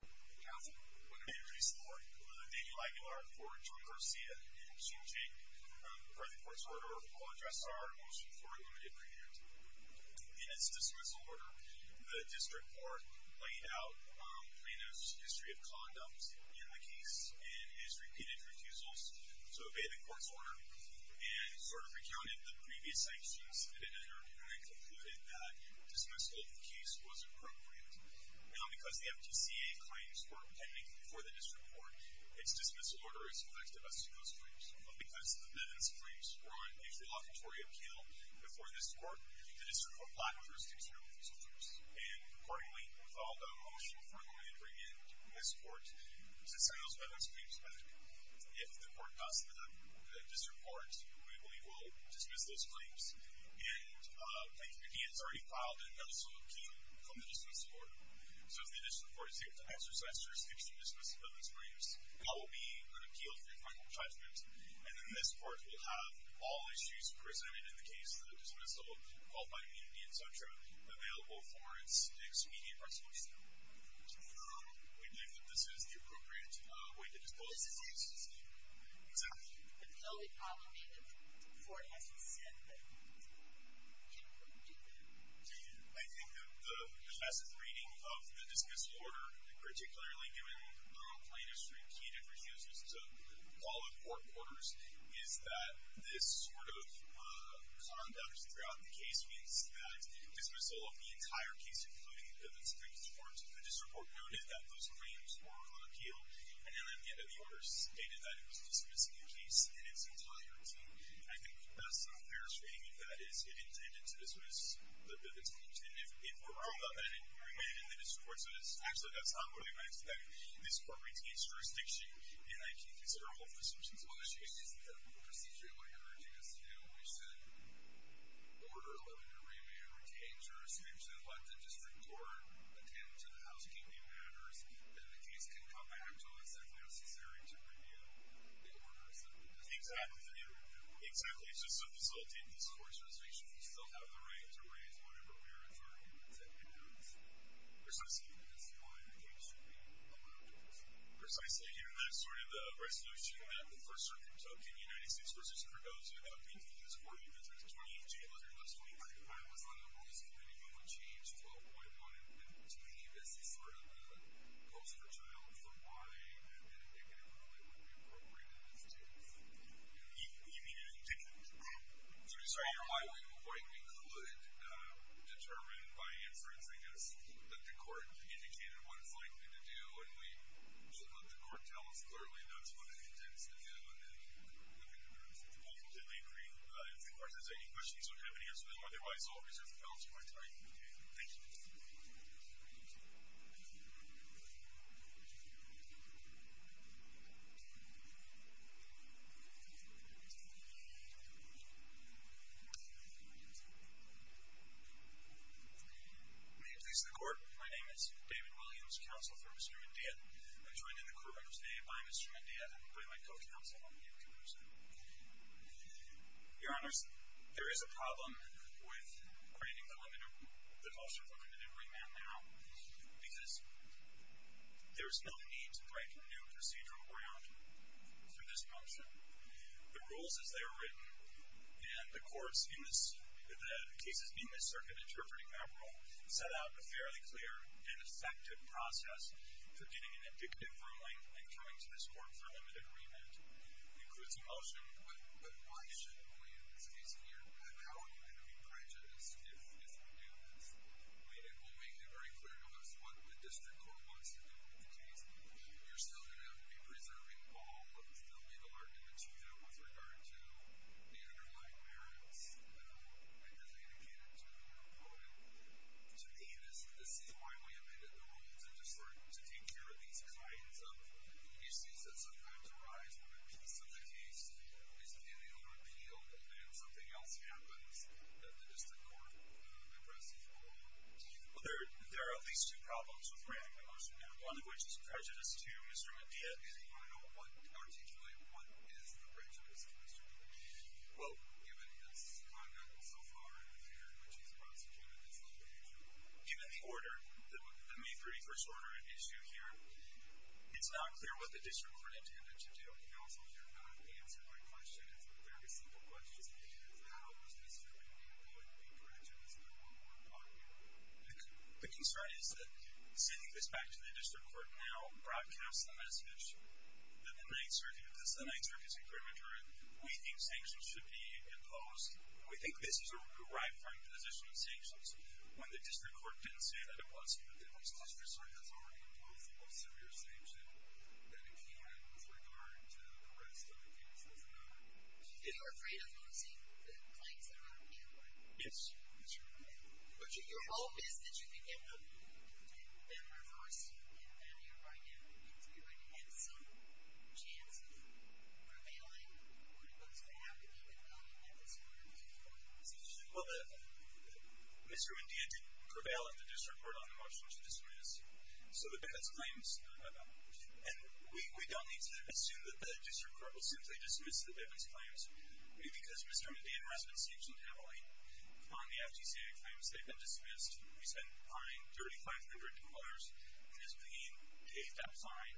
Council, I'm going to introduce the court. Daniel Aguilar for John Garcia, and Sean Jake for the court's order. We'll address our motion for a limited period. In this dismissal order, the district court laid out Plano's history of condoms in the case, and his repeated refusals to obey the court's order, and sort of recounted the previous actions that had occurred, and concluded that dismissal of the case was appropriate. Now, because the MTCA claims were pending before the district court, its dismissal order is effective as soon as it comes. But because those claims were on a preliminary appeal before this court, the district court blocked those two general consultants. And accordingly, with all the motion for a limited period in this court, since I know that those claims are pending, if the court does not disreport, we believe we'll dismiss those claims. And again, it's already filed in another sort of key from the dismissal order. So if the initial court is able to exercise jurisdiction to dismiss those claims, that will be an appeal through final judgment. And then this court will have all issues presented in the case, the dismissal, qualified immunity, etc., available for its immediate resolution. We believe that this is the appropriate way to dispose of those issues. Ms. Huffman? Ms. Huffman. The only problem for, as you said, the two general consultants. I think the passive reading of the dismissal order, particularly given rural Plano Street key differences, is a call of court orders, is that this sort of conduct throughout the case means that dismissal of the entire case, including the district court, the district court noted that those claims were on appeal, and then at the end of the order stated that it was dismissing the case in its entirety. I think that's not a fair statement. That is, it intended to dismiss the dispute. And if we're wrong about that, and we remain in the district court, so actually that's not what I meant. I expect this court retains jurisdiction, and I can't consider all of those issues. Well, the issue isn't that we procedurally have retained jurisdiction. We said order 11 to remain, retain jurisdiction, and let the district court attend to the housekeeping matters. And the case can come back to us if necessary to review the order. Exactly. Exactly. Just to facilitate this court's resolution, we still have the right to raise money, but we are adjourned. And precisely in this line, the case should be allowed to proceed. Precisely. Given that sort of resolution that the first circuit took in the United States, which is for those who have not been here this morning, which was 2225, that was one of the rules that we needed to change 12.1. And to me, this is sort of a poster child for why we didn't make it a rule that would be appropriate in this case. You didn't? I'm sorry. I don't know why we couldn't determine by inference, I guess, that the court indicated what it's likely to do, and we let the court tell us clearly that's what it intends to do. And I completely agree. If the court has any questions, we'll have an answer to them otherwise I'll reserve the balance of my time. Thank you. May it please the Court, my name is David Williams, Counsel for Mr. Mendia. I'm joined in the courtroom today by Mr. Mendia and by my co-counsel, Ian Caruso. Your Honor, there is a problem with creating the culture of unlimited remand now because there's no need to break new procedural ground for this motion. The rules as they were written, and the courts in this, the cases in this circuit interpreting that rule, set out a fairly clear and effective process for getting an indicative ruling and coming to this court for limited remand. It includes a motion, but why shouldn't we, in this case here, allow it to be prejudiced if this ruling is made? And we'll make it very clear to us what the district court wants to do with the case. We are still going to be preserving all of the legal arguments here with regard to an underlying merits, I guess I indicated to you in the ruling. To me, this is my way of looking at the rules and just looking to take care of these kinds of issues that sometimes arise in the case. So the case is pending on repeal, and then something else happens that the district court impresses upon. Well, there are at least two problems with granting the motion, and one of which is prejudiced to Mr. Medina. And Your Honor, articulate what is the prejudice to Mr. Medina. Well, given his conduct so far here, which he's prosecuted, it's not an issue. Even the order, the May 31st order issue here, it's not clear what the district court intended to do. And also, you're not answering my question. It's a very simple question. How is Mr. Medina going to be prejudiced? I don't want to interrupt you. The concern is that sending this back to the district court now broadcasts the message that the Ninth Circuit does the Ninth Circuit's agreement, or we think sanctions should be imposed. We think this is a right-front position of sanctions. When the district court didn't say that it was, the district court has already imposed the most severe sanction that it can have with regard to the rest of the cases of the matter. And you're afraid of losing the claims that are on paper? Yes. But your hope is that you can get them reversed, and that everybody can continue, and you have some chance of prevailing with those that have the public knowing that there's more to come. Well, Mr. Medina didn't prevail at the district court on the motion to dismiss. So the Bibbitts claims, and we don't need to assume that the district court will simply dismiss the Bibbitts claims. Maybe because Mr. Medina and Resnick sanctioned heavily on the FGCA claims. They've been dismissed. We spent, I think, 3,500 dollars in his name, paid that fine.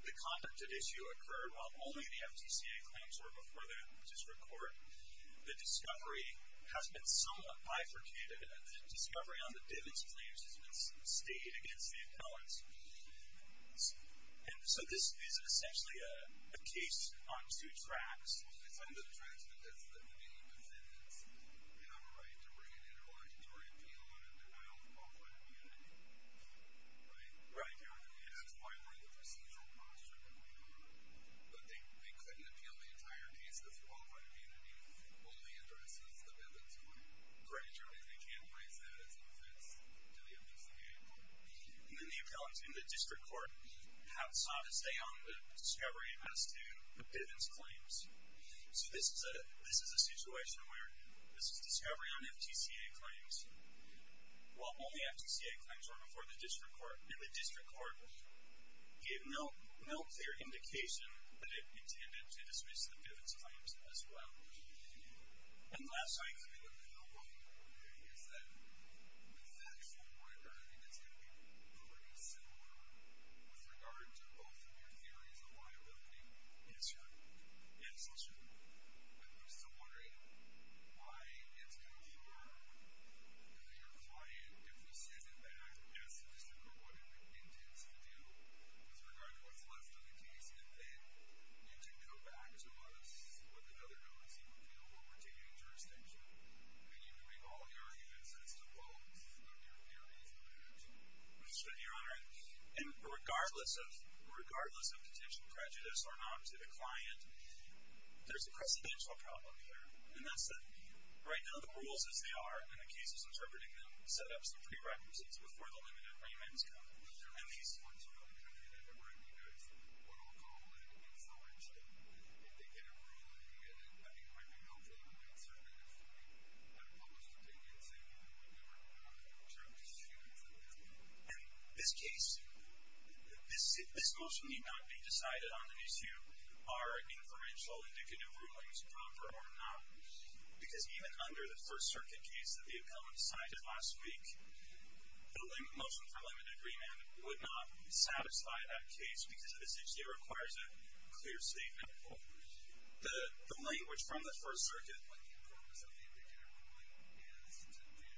The conduct at issue occurred while only the FGCA claims were before the district court. The discovery has been somewhat bifurcated, but the discovery on the Bibbitts claims has been stated against me in college. And so this is essentially a case on two tracks. On the one hand, the plaintiff didn't have any defendants. They didn't have a right to bring an individual or to appeal on a denial of public immunity. Right? Right. They were going to have a fine rate of procedural punishment. But they couldn't appeal the entire case of lawful immunity because the plaintiff only endorsed the Bibbitts claim. Gradually, they can't raise the defense of the Bibbitts claim anymore. And then the appellate in the district court has sought to stay on the discovery as to the Bibbitts claims. So this is a situation where this is a discovery on FGCA claims. While all the FGCA claims were before the district court, the district court gave no clear indication that it intended to dismiss the Bibbitts claims as well. And the last thing I can think of now, though, is that the factual background, I think, is going to be pretty similar with regard to both your theories of liability and social group. I'm still wondering why, in terms of your client, if this isn't the actual past of the district court, with regard to what's left of the case, and then you can go back to us with another notice and we'll continue the jurisdiction. And you can make all your evidence as to both your theories of liability. I understand, Your Honor. And regardless of contention, prejudice, or not, to the client, there's a precedential problem there. And that's that right now the rules as they are, and the case is interpreting them, and setting up some prerequisites before the limited arraignments come. And these ones, Your Honor, they never write because we don't call that influential. If they get a ruling, I mean, it might be helpful to make certain that it's going to be a public opinion, saying, you know, whatever you want to do, it's your decision to make. And this case, this motion need not be decided on the issue. Are inferential indicative rulings proper or not? Because even under the First Circuit case, if the appellant decided not to speak, the motion for limited agreement would not satisfy that case because it essentially requires a clear statement. The language from the First Circuit, when the appellant was unable to get a ruling, is to give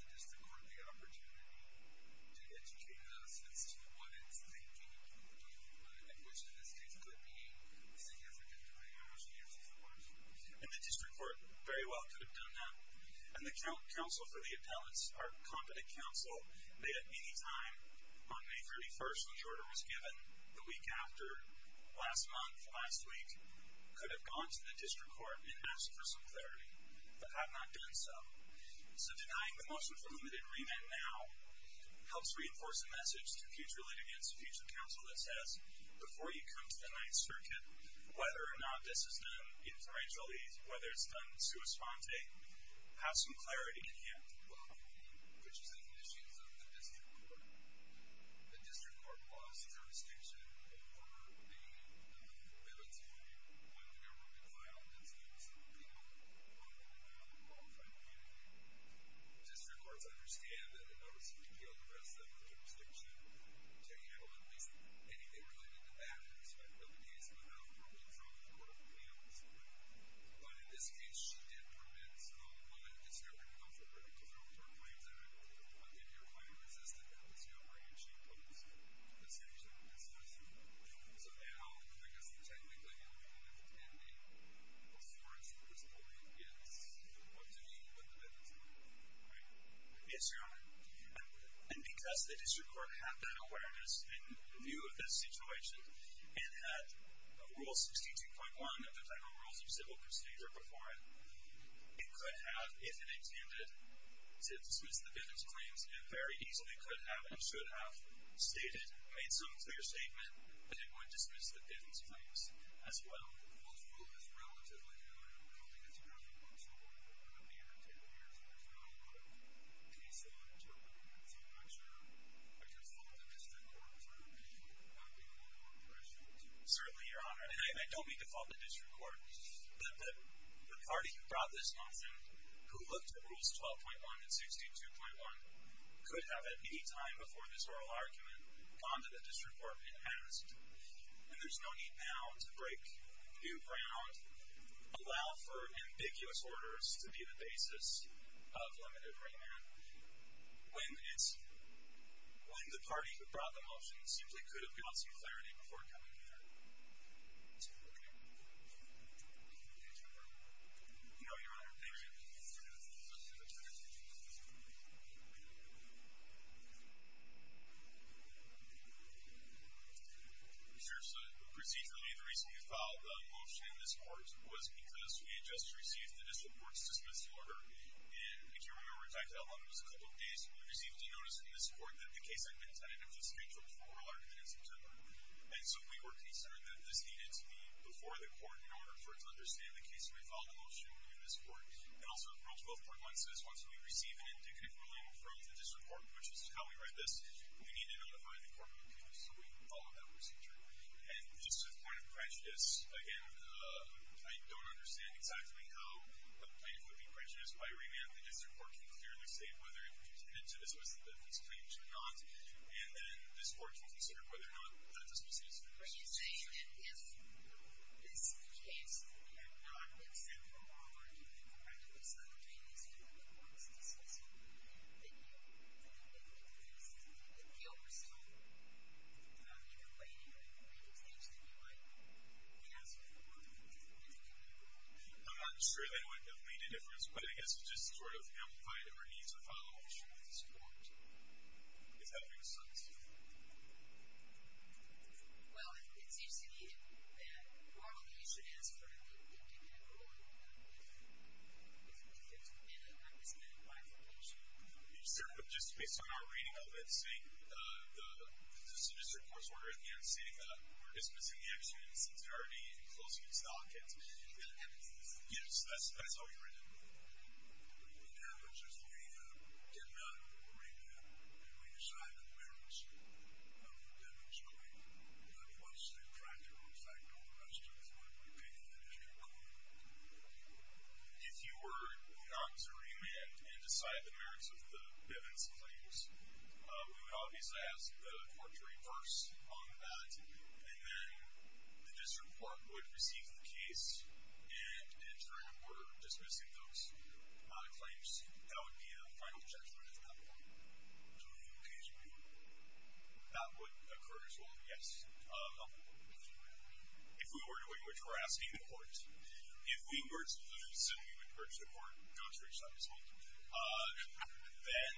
the district court the opportunity to educate us as to what it's thinking, and which in this case could be seen as an interpretation of the court. And the district court very well could have done that. And the counsel for the appellants, our competent counsel, they at any time on May 31st, when the order was given, the week after, last month, last week, could have gone to the district court and asked for some clarity, but have not done so. So denying the motion for limited remand now helps reinforce the message to future leaders, future counsel that says, before you come to the Ninth Circuit, whether or not this is done inferentially, whether it's done sua sponte, have some clarity, and you have to go home, which is an issue for the district court. The district court lost jurisdiction over the limits of when the member would file in terms of the people who are qualified to be remanded. District courts understand that the motion would yield the rest of the jurisdiction to handle at least anything related to that, whether it's activities without problems on the court of remand. But in this case, she did prevent a district counsel from removing her claims, and I think you're quite resistant to the discovery that she posed, as soon as you discussed it. So now, I guess, technically, you're involved in the performance at this point in the decision of the amendment, right? Yes, Your Honor. And because the district court had that awareness in view of this situation, and had Rule 62.1 of the Federal Rules of Civil Procedure before it, it could have, if it intended to dismiss the Bivens claims, it very easily could have and should have stated, made some clear statement, that it would dismiss the Bivens claims as well. Well, the rule is relatively new, and I don't think it's a perfect one, so I don't know what it would have been if it had been used, but there's been a lot of case law interpreting through much of a default in the district court, so I think it would have been a lot more prescient. Certainly, Your Honor, and I don't mean default in district court. The party who brought this motion, who looked at Rules 12.1 and 62.1, could have, at any time before this oral argument, gone to the district court and asked, and there's no need now to break new ground, allow for ambiguous orders to be the basis of limited remand. When it's... When the party who brought the motion simply could have gotten some clarity before coming in here. Okay. You know, Your Honor, maybe we should... Seriously, procedurally, the reason we filed the motion in this court was because we had just received the district court's dismissal order, and I can't remember exactly how long it was, a couple of days, but we received a notice in this court that the case had been tentatively scheduled for oral argument in September, and so we were concerned that this needed to be before the court in order for it to understand the case, and we filed the motion in this court. And also, Rules 12.1 says, once we receive an indicative ruling from the district court, which is how we write this, we need to notify the court of the case, so we followed that procedure. And just as a point of prejudice, again, I don't understand exactly how a point of prejudice by remand the district court can clearly state whether it contended to the dismissal that was claimed or not, and then the district court can consider whether or not that dismissal is true. So you're saying that this case had not been sent for oral argument in September, and it's not in the court's decision. Do you think that you... Do you think that this is... Do you think that we are still in the way of making things that we might pass before the court to continue to rule? I'm not sure that that would make a difference, but I guess it just sort of amplified our needs to follow. I'm not sure that this court is having a service to that. Well, it seems to me that normally you should answer for an indicative ruling, but if it's in the way that it was claimed by the court, you're sort of... You're sort of... But just based on our reading of it, seeing the district court's order in here and seeing that we're dismissing the action since there are already closing its docket, that would be... Yes, that's how we read it. In other words, if we get another reading and we decide on the merits of the damage claim, would that be much subtracted from the fact that all the rest of us wouldn't be paying attention at all? If you were not to read it and decide the merits of the evidence claims, we would obviously ask the court to reverse on that, and then the district court would receive the case and, in turn, we're dismissing those claims. That would be the final judgment of that case. That would occur as well. Yes. If we were to do it, which we're asking the court, if we were to do this and we would urge the court, don't switch on this one, then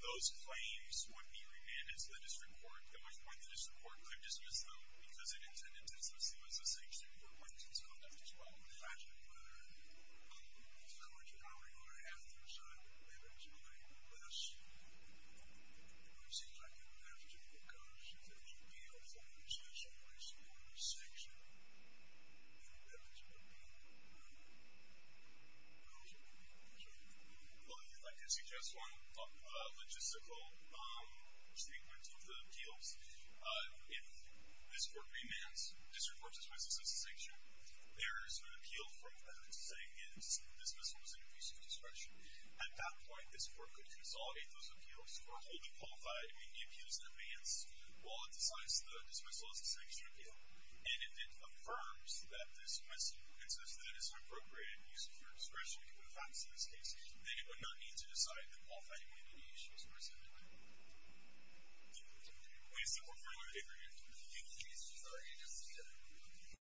those claims would be remanded to the district court, and which one the district court could dismiss them because it intended to dismiss the sanctioned complaints as a consequence. Well, the fact of the matter, the court, however, you are asking to decide the merits of the claim, unless it seems like you would have to take a commission that would be a formal decision based upon the sanction and the evidence of the claim. I don't know. Well, if I could suggest one logistical statement to the appeals. If the district court remands, if the district court dismisses the sanction, there is an appeal from the public saying that this dismissal was an abuse of discretion. At that point, this court could consolidate those appeals or hold them qualified in the appeals in advance while it decides that the dismissal is a sanction appeal. And if it affirms that this dismissal and says that it is an appropriate abuse of your discretion to put facts in this case, then it would not need to decide that qualifying would be an abuse of discretion. Thank you. We still have one more paper here. I think it's Jesus. All right. You just said it.